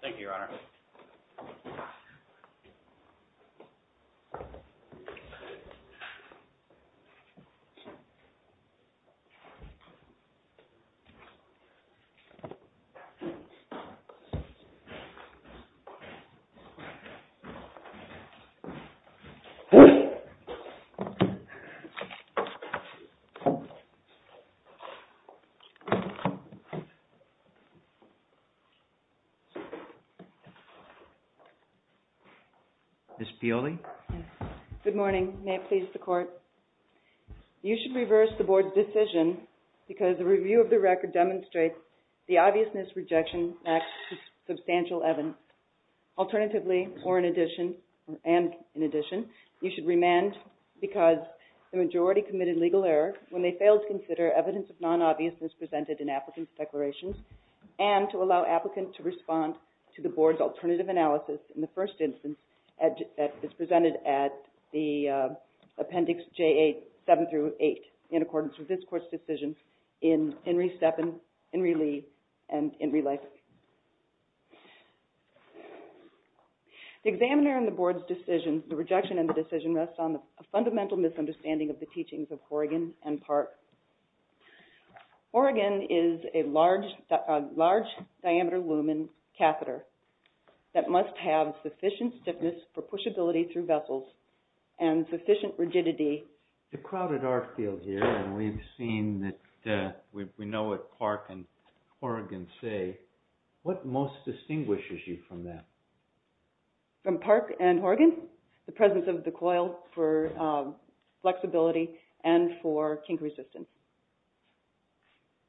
Thank you, Your Honor. Ms. Piolli? Good morning. May it please the Court? You should reverse the Board's decision because the review of the record demonstrates the obviousness, rejection, and absence of substantial evidence. Alternatively, or in addition – and in addition – you should remand because the majority committed legal error when they failed to consider evidence of non-obviousness presented in applicants' declarations and tried to allow applicants to respond to the Board's alternative analysis in the first instance as presented at the Appendix J.A. 7-8 in accordance with this Court's decision in IN RE STEPPIN, IN RE LEAVE, and IN RE LIFE. The examiner in the Board's decision – the rejection in the decision – rests on a fundamental misunderstanding of the teachings of Horrigan and Park. Horrigan is a large-diameter lumen catheter that must have sufficient stiffness for pushability through vessels and sufficient rigidity… The crowded art field here, and we've seen that – we know what Park and Horrigan say. What most distinguishes you from them? From Park and Horrigan? The presence of the coil for flexibility and for kink resistance.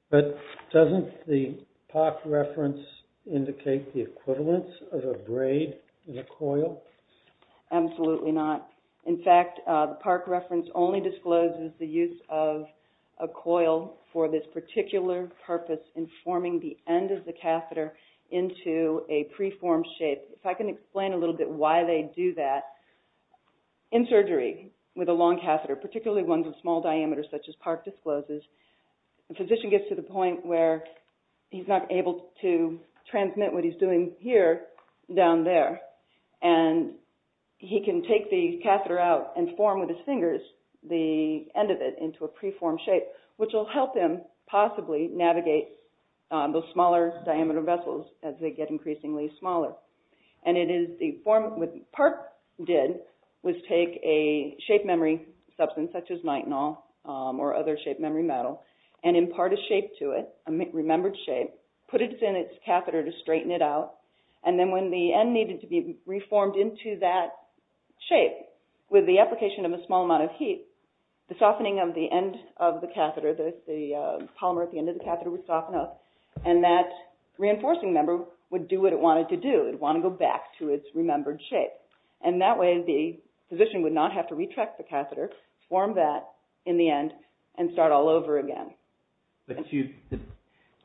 But doesn't the Park reference indicate the equivalence of a braid and a coil? Absolutely not. In fact, the Park reference only discloses the use of a coil for this Let me explain a little bit why they do that. In surgery, with a long catheter, particularly ones of small diameter such as Park discloses, the physician gets to the point where he's not able to transmit what he's doing here down there, and he can take the catheter out and form with his fingers the end of it into a preformed shape, which will help him possibly navigate those smaller-diameter vessels as they get increasingly smaller. What Park did was take a shape-memory substance such as nitinol or other shape-memory metal and impart a shape to it, a remembered shape, put it in its catheter to straighten it out, and then when the end needed to be reformed into that shape with the application of a small amount of heat, the softening of the end of the catheter, the polymer at the end of the catheter would soften up, and that reinforcing member would do what it wanted to do, it would want to go back to its remembered shape. And that way the physician would not have to retract the catheter, form that in the end, and start all over again. But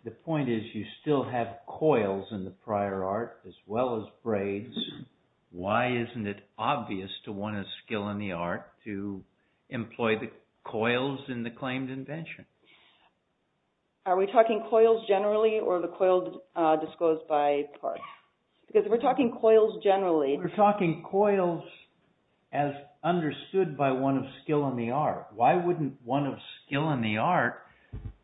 the point is you still have coils in the prior art as well as braids. Why isn't it obvious to want a skill in the art to employ the coils in the claimed invention? Are we talking coils generally or the coils disclosed by Park? Because if we're talking coils generally... We're talking coils as understood by one of skill in the art. Why wouldn't one of skill in the art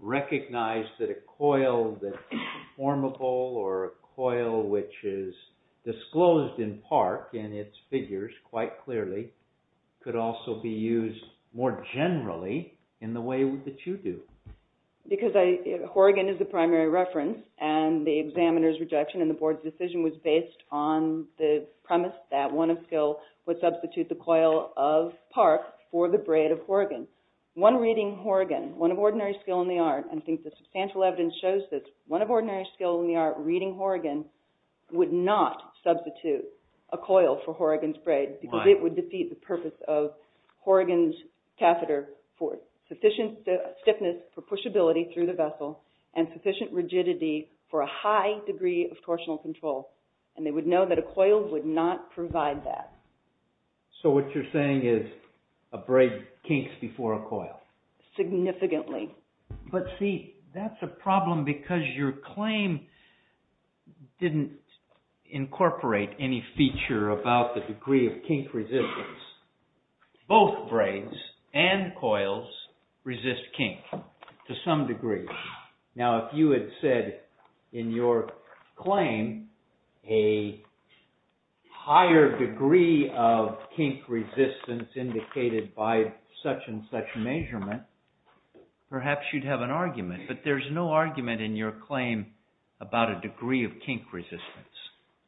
recognize that a coil that is formable or a coil which is disclosed in Park in its figures quite clearly could also be used more generally in the way that you do? Because Horrigan is the primary reference and the examiner's rejection and the board's decision was based on the premise that one of skill would substitute the coil of Park for the braid of Horrigan. One reading Horrigan, one of ordinary skill in the art, and I think the substantial evidence shows this, one of ordinary skill in the art reading Horrigan would not substitute a coil for Horrigan's braid because it would defeat the purpose of Horrigan's catheter for sufficient stiffness, for pushability through the vessel, and sufficient rigidity for a high degree of torsional control. And they would know that a coil would not provide that. So what you're saying is a braid kinks before a coil. Significantly. But see, that's a problem because your claim didn't incorporate any feature about the degree of kink resistance. Both braids and coils resist kink to some degree. Now if you had said in your claim a higher degree of kink resistance indicated by such and such measurement, perhaps you'd have an argument. But there's no argument in your claim about a degree of kink resistance.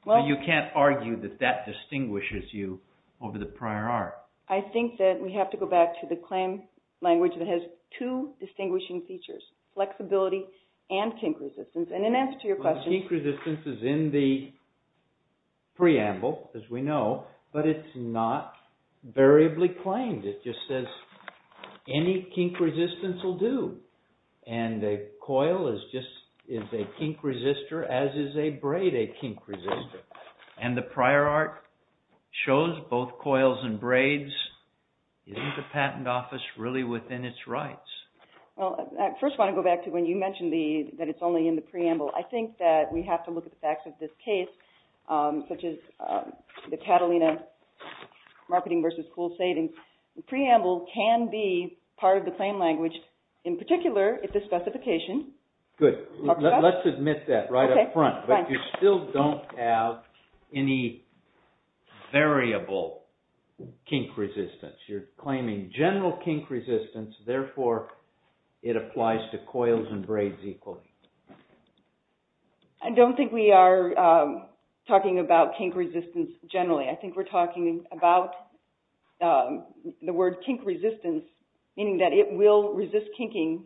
So you can't argue that that distinguishes you over the prior art. I think that we have to go back to the claim language that has two distinguishing features, flexibility and kink resistance. And in answer to your question... Well, the kink resistance is in the preamble, as we know, but it's not variably claimed. It just says any kink resistance will do. And a coil is a kink resistor, as is a braid a kink resistor. And the prior art shows both coils and braids. Isn't the patent office really within its rights? Well, I first want to go back to when you mentioned that it's only in the preamble. I think that we have to look at the facts of this case, such as the Catalina Marketing versus School Savings. The preamble can be part of the claim language. In particular, if the specification... Good. Let's admit that right up front. But you still don't have any variable kink resistance. You're claiming general kink resistance. Therefore, it applies to coils and braids equally. I don't think we are talking about kink resistance generally. I think we're talking about the word kink resistance, meaning that it will resist kinking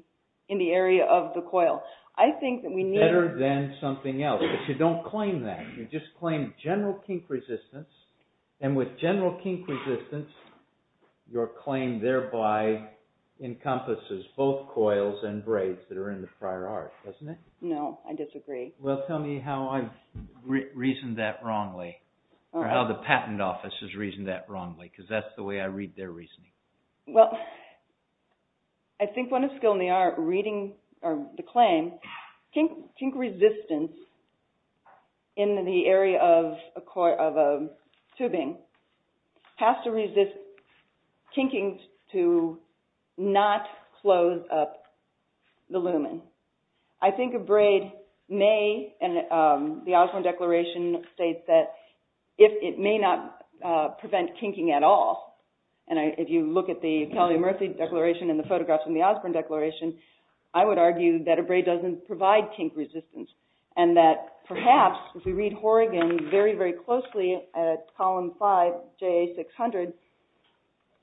in the area of the coil. I think that we need... Better than something else. But you don't claim that. You just claim general kink resistance. And with general kink resistance, your claim thereby encompasses both coils and braids that are in the prior art, doesn't it? No, I disagree. Well, tell me how I've reasoned that wrongly, or how the patent office has reasoned that wrongly, because that's the way I read their reasoning. Well, I think when a skill in the art reading the claim, kink resistance in the area of a tubing has to resist kinking to not close up the lumen. I think a braid may... And the Osborne Declaration states that it may not prevent kinking at all. And if you look at the Talia Murthy Declaration and the photographs in the Osborne Declaration, I would argue that a braid doesn't provide kink resistance, and that perhaps if we read Horrigan very, very closely at column five, JA 600,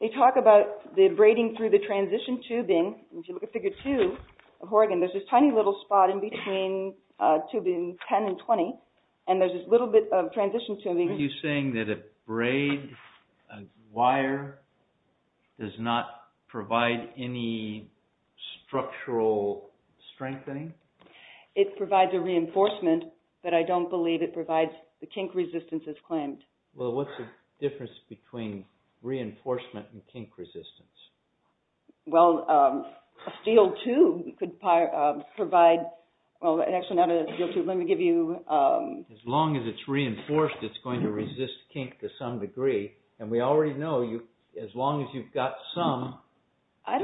they talk about the braiding through the transition tubing. And if you look at figure two of Horrigan, there's this tiny little spot in between tubing 10 and 20, and there's this little bit of transition tubing. Are you saying that a braid, a wire, does not provide any structural strengthening? It provides a reinforcement, but I don't believe it provides the kink resistance as claimed. Well, what's the difference between reinforcement and kink resistance? Well, a steel tube could provide... Well, actually not a steel tube, let me give you... As long as it's reinforced, it's going to resist kink to some degree. And we already know, as long as you've got some,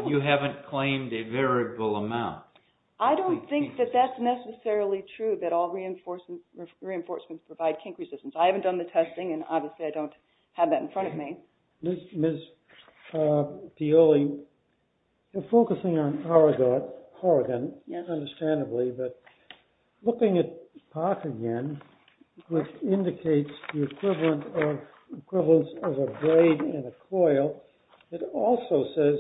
you haven't claimed a variable amount. I don't think that that's necessarily true, that all reinforcements provide kink resistance. I haven't done the testing, and obviously I don't have that in front of me. Ms. Pioli, you're focusing on Horrigan, understandably, but looking at Park again, which indicates the equivalence of a braid and a coil, it also says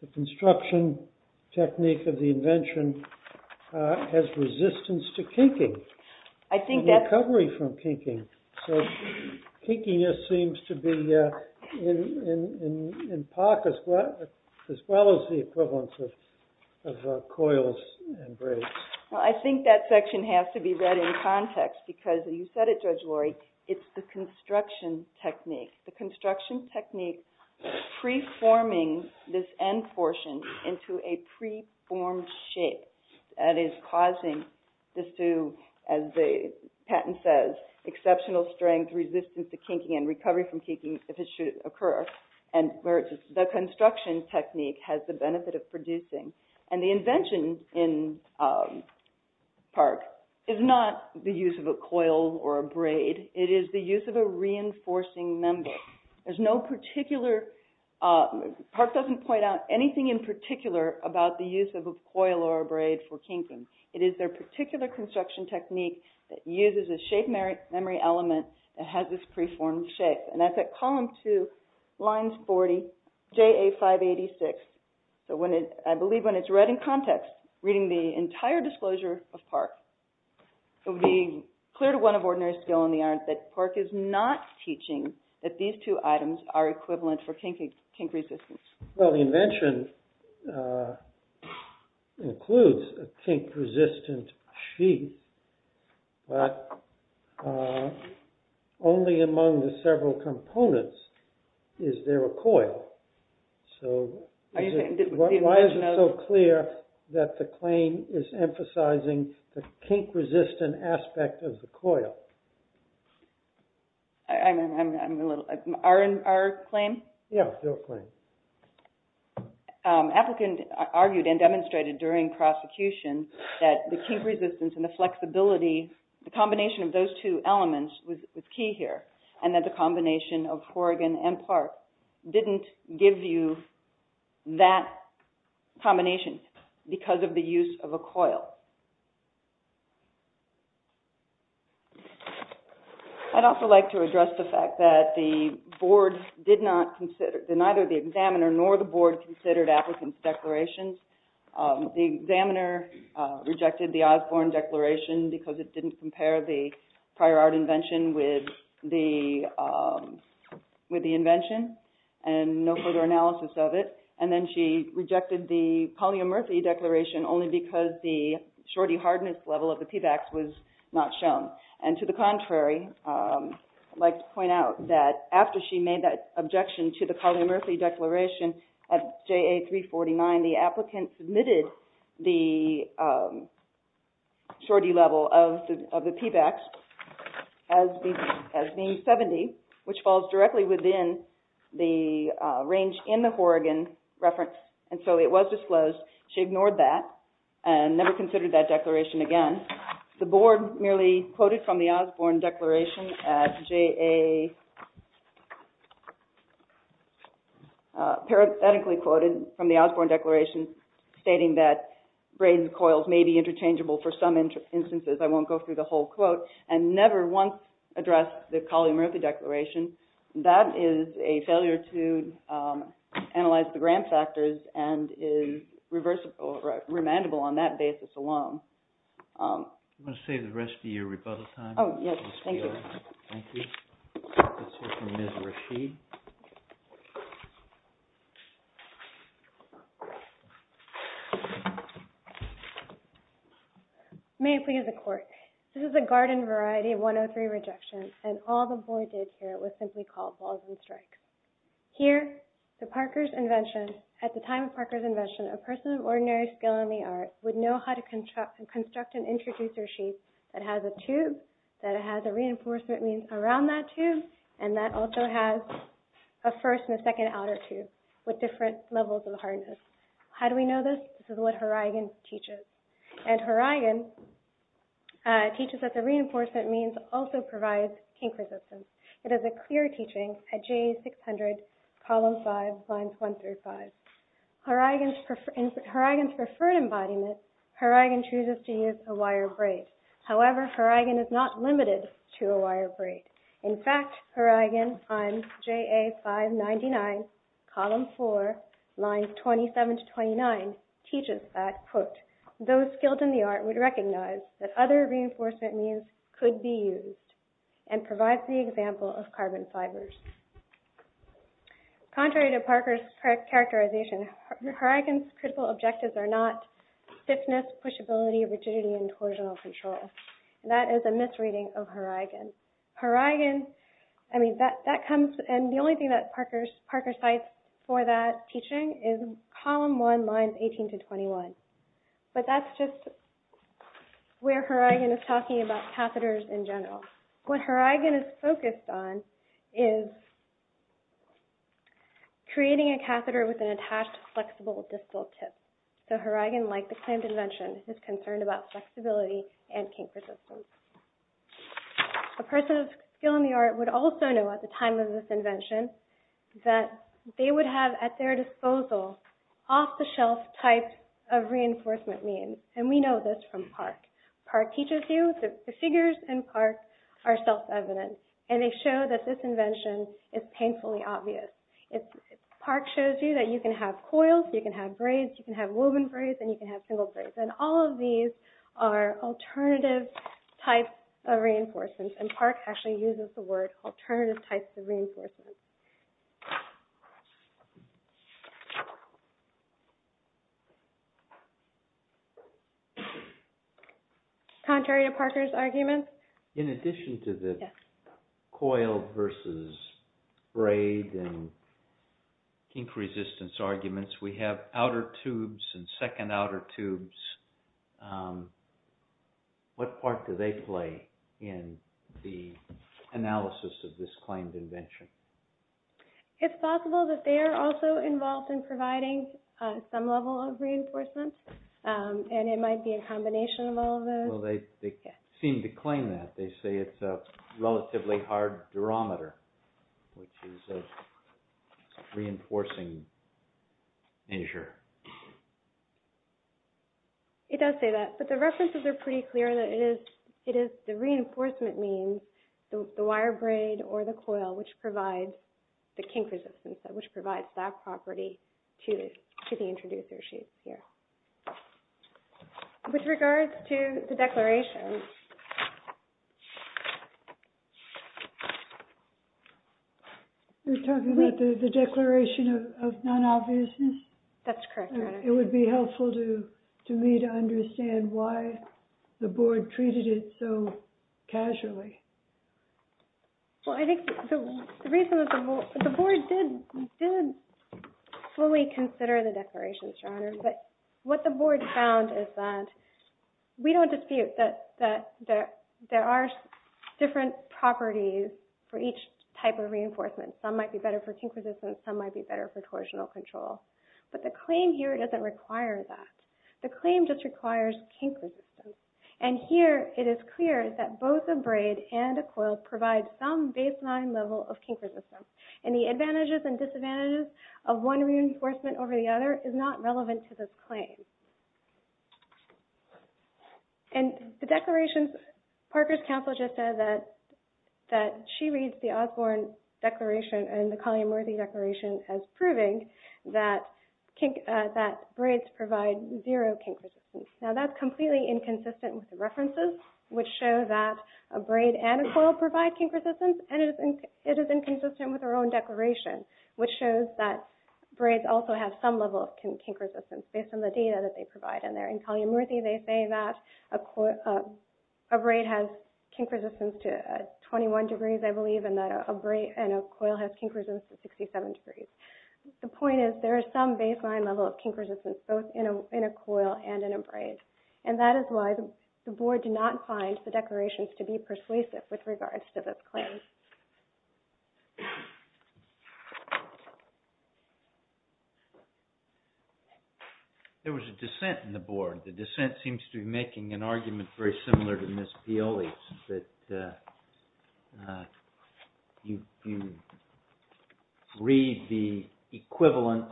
the construction technique of the invention has resistance to kinking, a recovery from kinking. So kinkiness seems to be in Park as well as the equivalence of coils and braids. Well, I think that section has to be read in context, because you said it, Judge Laurie, it's the construction technique, the construction technique preforming this end portion into a preformed shape that is causing this to, as the patent says, exceptional strength, resistance to kinking, and recovery from kinking if it should occur. And the construction technique has the benefit of producing. And the invention in Park is not the use of a coil or a braid. It is the use of a reinforcing member. There's no particular, Park doesn't point out anything in particular about the use of a coil or a braid for kinking. It is their particular construction technique that uses a shape memory element that has this preformed shape. And that's at column two, lines 40, JA586. So I believe when it's read in context, reading the entire disclosure of Park, it would be clear to one of ordinary skill in the art that Park is not teaching that these two items are equivalent for kink resistance. Well, the invention includes a kink resistant sheet, but only among the several components is there a coil. So why is it so clear that the claim is emphasizing the kink resistant aspect of the coil? I'm a little, our claim? Yeah, your claim. Applicant argued and demonstrated during prosecution that the kink resistance and the flexibility, the combination of those two elements was key here. And that the combination of Horrigan and Park didn't give you that combination because of the use of a coil. I'd also like to address the fact that the board did not consider, neither the examiner nor the board considered applicants' declarations. The examiner rejected the Osborne Declaration because it didn't compare the prior art invention with the invention and no further analysis of it. And then she rejected the Collier-Murphy Declaration only because the shorty hardness level of the PBACs was not shown. And to the contrary, I'd like to point out that after she made that objection to the Collier-Murphy Declaration at JA 349, the applicant submitted the shorty level of the PBACs as being 70, which falls directly within the range in the Horrigan reference. And so it was disclosed. She ignored that and never considered that declaration again. The board merely quoted from the Osborne Declaration at JA, parenthetically quoted from the Osborne Declaration stating that braided coils may be interchangeable for some instances. I won't go through the whole quote. And never once addressed the Collier-Murphy Declaration. That is a failure to analyze the gram factors and is remandable on that basis alone. I'm going to save the rest of your rebuttal time. Oh, yes. Thank you. Thank you. Let's hear from Ms. Rashid. May it please the court. This is a garden variety 103 rejection. And all the board did here was simply call balls and strikes. Here, at the time of Parker's invention, a person of ordinary skill in the art would know how to construct an introducer sheet that has a tube, that it has a reinforcement means around that tube, and that also has a first and a second outer tube with different levels of hardness. How do we know this? This is what Horigen teaches. And Horigen teaches that the reinforcement means also provides kink resistance. It is a clear teaching at JA 600, column 5, lines 1 through 5. In Horigen's preferred embodiment, Horigen chooses to use a wire braid. However, Horigen is not limited to a wire braid. In fact, Horigen, on JA 599, column 4, lines 27 to 29, teaches that, quote, those skilled in the art would recognize that other reinforcement means could be used and provides the example of carbon fibers. Contrary to Parker's characterization, Horigen's critical objectives are not stiffness, pushability, rigidity, and torsional control. And that is a misreading of Horigen. Horigen, I mean, that comes, and the only thing that Parker cites for that teaching is column 1, lines 18 to 21. But that's just where Horigen is talking about catheters in general. What Horigen is focused on is creating a catheter with an attached flexible distal tip. So Horigen, like the clamped invention, is concerned about flexibility and kink resistance. A person of skill in the art would also know at the time of this invention that they would have at their disposal off-the-shelf types of reinforcement means, and we know this from Park. Park teaches you that the figures in Park are self-evident, and they show that this invention is painfully obvious. Park shows you that you can have coils, you can have braids, you can have woven braids, and you can have single braids. And all of these are alternative types of reinforcements, and Park actually uses the word alternative types of reinforcements. Contrary to Parker's arguments? In addition to the coil versus braid and kink resistance arguments, we have outer tubes and second outer tubes. What part do they play in the analysis of this claimed invention? It's possible that they are also involved in providing some level of reinforcement, and it might be a combination of all of those. Well, they seem to claim that. They say it's a relatively hard durometer, which is a reinforcing measure. It does say that, but the references are pretty clear that it is the reinforcement means, the wire braid or the coil, which provides the kink resistance, which provides that property to the introducer sheet here. With regards to the declaration. You're talking about the declaration of non-obviousness? That's correct, Your Honor. It would be helpful to me to understand why the board treated it so casually. Well, I think the reason that the board did fully consider the declaration, Your Honor, is that what the board found is that we don't dispute that there are different properties for each type of reinforcement. Some might be better for kink resistance, some might be better for torsional control. But the claim here doesn't require that. The claim just requires kink resistance. And here it is clear that both a braid and a coil provide some baseline level of kink resistance. And the advantages and disadvantages of one reinforcement over the other is not relevant to this claim. And the declaration, Parker's counsel just said that she reads the Osborne Declaration and the Collier-Murthy Declaration as proving that braids provide zero kink resistance. Now that's completely inconsistent with the references, which show that a braid and a coil provide kink resistance, and it is inconsistent with her own declaration, which shows that braids also have some level of kink resistance based on the data that they provide in there. In Collier-Murthy, they say that a braid has kink resistance to 21 degrees, I believe, and that a braid and a coil has kink resistance to 67 degrees. The point is there is some baseline level of kink resistance both in a coil and in a braid. And that is why the Board did not find the declarations to be persuasive with regards to this claim. There was a dissent in the Board. The dissent seems to be making an argument very similar to Ms. Pioli's, that you read the equivalent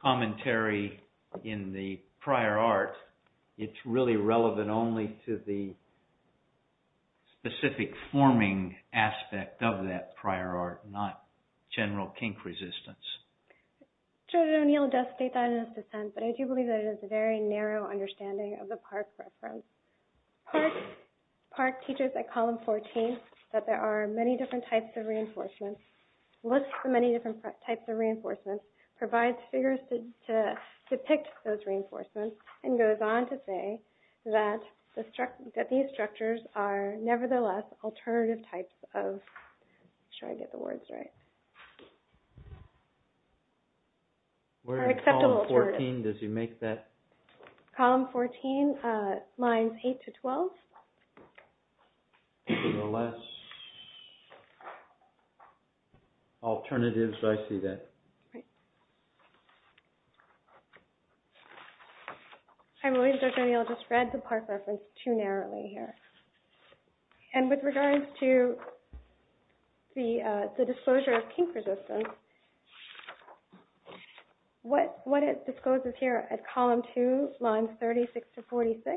commentary in the prior art, it's really relevant only to the specific forming aspect of that prior art, not general kink resistance. Judge O'Neill does state that in his dissent, but I do believe that it is a very narrow understanding of the Park reference. Park teaches at column 14 that there are many different types of reinforcements, lists the many different types of reinforcements, provides figures to depict those reinforcements, and goes on to say that these structures are nevertheless alternative types of... I'm not sure I get the words right. Where in column 14 does he make that? Column 14, lines 8 to 12. Nevertheless, alternatives, I see that. Right. I believe Judge O'Neill just read the Park reference too narrowly here. And with regards to the disclosure of kink resistance, what it discloses here at column 2, lines 36 to 46,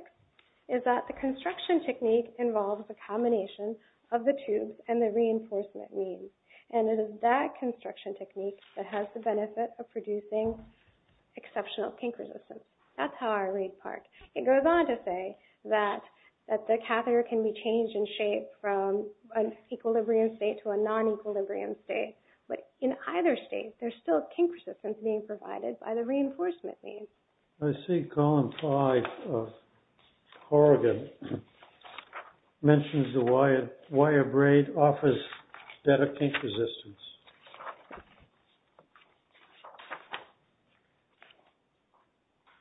is that the construction technique involves a combination of the tubes and the reinforcement means, and it is that construction technique that has the benefit of producing exceptional kink resistance. That's how I read Park. It goes on to say that the catheter can be changed in shape from an equilibrium state to a non-equilibrium state, but in either state, there's still kink resistance being provided by the reinforcement means. I see column 5 of Horrigan mentions the wire braid offers better kink resistance.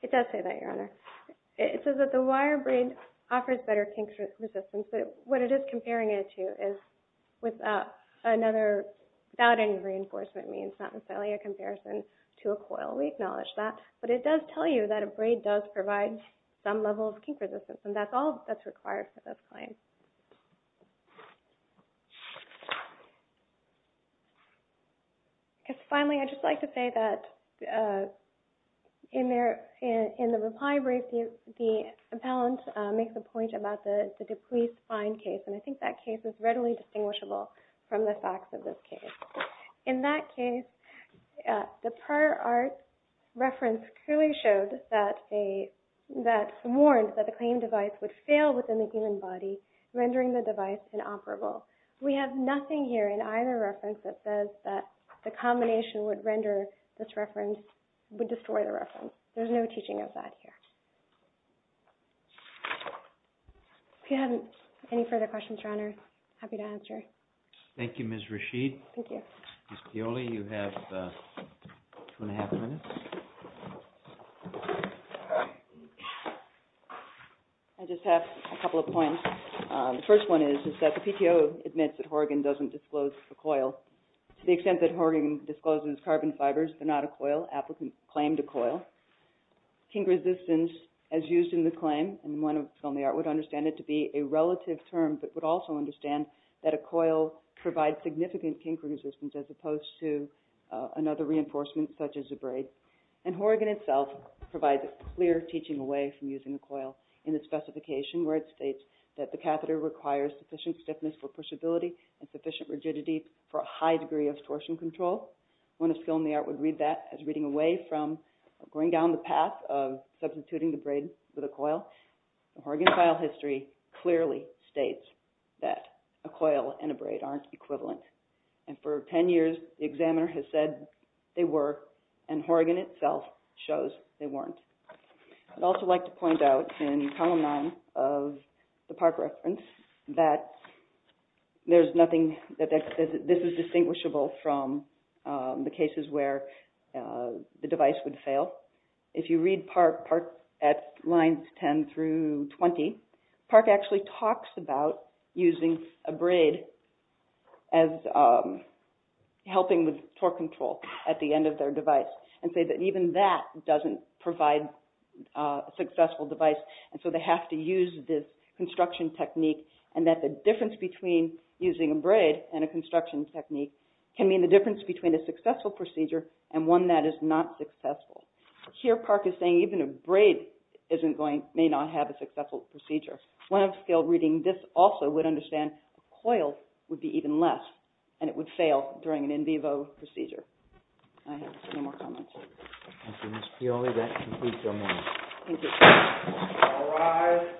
It does say that, Your Honor. It says that the wire braid offers better kink resistance. What it is comparing it to is without any reinforcement means, not necessarily a comparison to a coil. We acknowledge that. But it does tell you that a braid does provide some level of kink resistance, and that's all that's required for this claim. Finally, I'd just like to say that in the reply brief, the appellant makes a point about the deplete spine case, and I think that case is readily distinguishable from the facts of this case. In that case, the prior art reference clearly showed that, warned that the claim device would fail within the given body, rendering the device inoperable. We have nothing here in either reference that says that the combination would destroy the reference. There's no teaching of that here. If you have any further questions, Your Honor, happy to answer. Thank you, Ms. Rasheed. Thank you. Ms. Pioli, you have two and a half minutes. I just have a couple of points. The first one is that the PTO admits that Horrigan doesn't disclose a coil to the extent that Horrigan discloses carbon fibers, but not a coil. Applicant claimed a coil. Kink resistance, as used in the claim, and one of the only art would understand it to be a relative term, but would also understand that a coil provides significant kink resistance as opposed to another reinforcement, such as a braid. And Horrigan itself provides a clear teaching away from using a coil in its specification, where it states that the catheter requires sufficient stiffness for pushability and sufficient rigidity for a high degree of torsion control. One of skill in the art would read that as reading away from or going down the path of substituting the braid with a coil. The Horrigan file history clearly states that a coil and a braid aren't equivalent. And for ten years, the examiner has said they were, and Horrigan itself shows they weren't. I'd also like to point out in column nine of the PARC reference that there's nothing that says this is distinguishable from the cases where the device would fail. If you read PARC at lines 10 through 20, PARC actually talks about using a braid as helping with torque control at the end of their device, and say that even that doesn't provide a successful device, and so they have to use this construction technique, and that the difference between using a braid and a construction technique can mean the difference between a successful procedure and one that is not successful. Here, PARC is saying even a braid may not have a successful procedure. One of skill reading this also would understand a coil would be even less, and it would fail during an in vivo procedure. I have no more comments. Thank you, Ms. Fiore. That concludes our meeting. Thank you. All rise.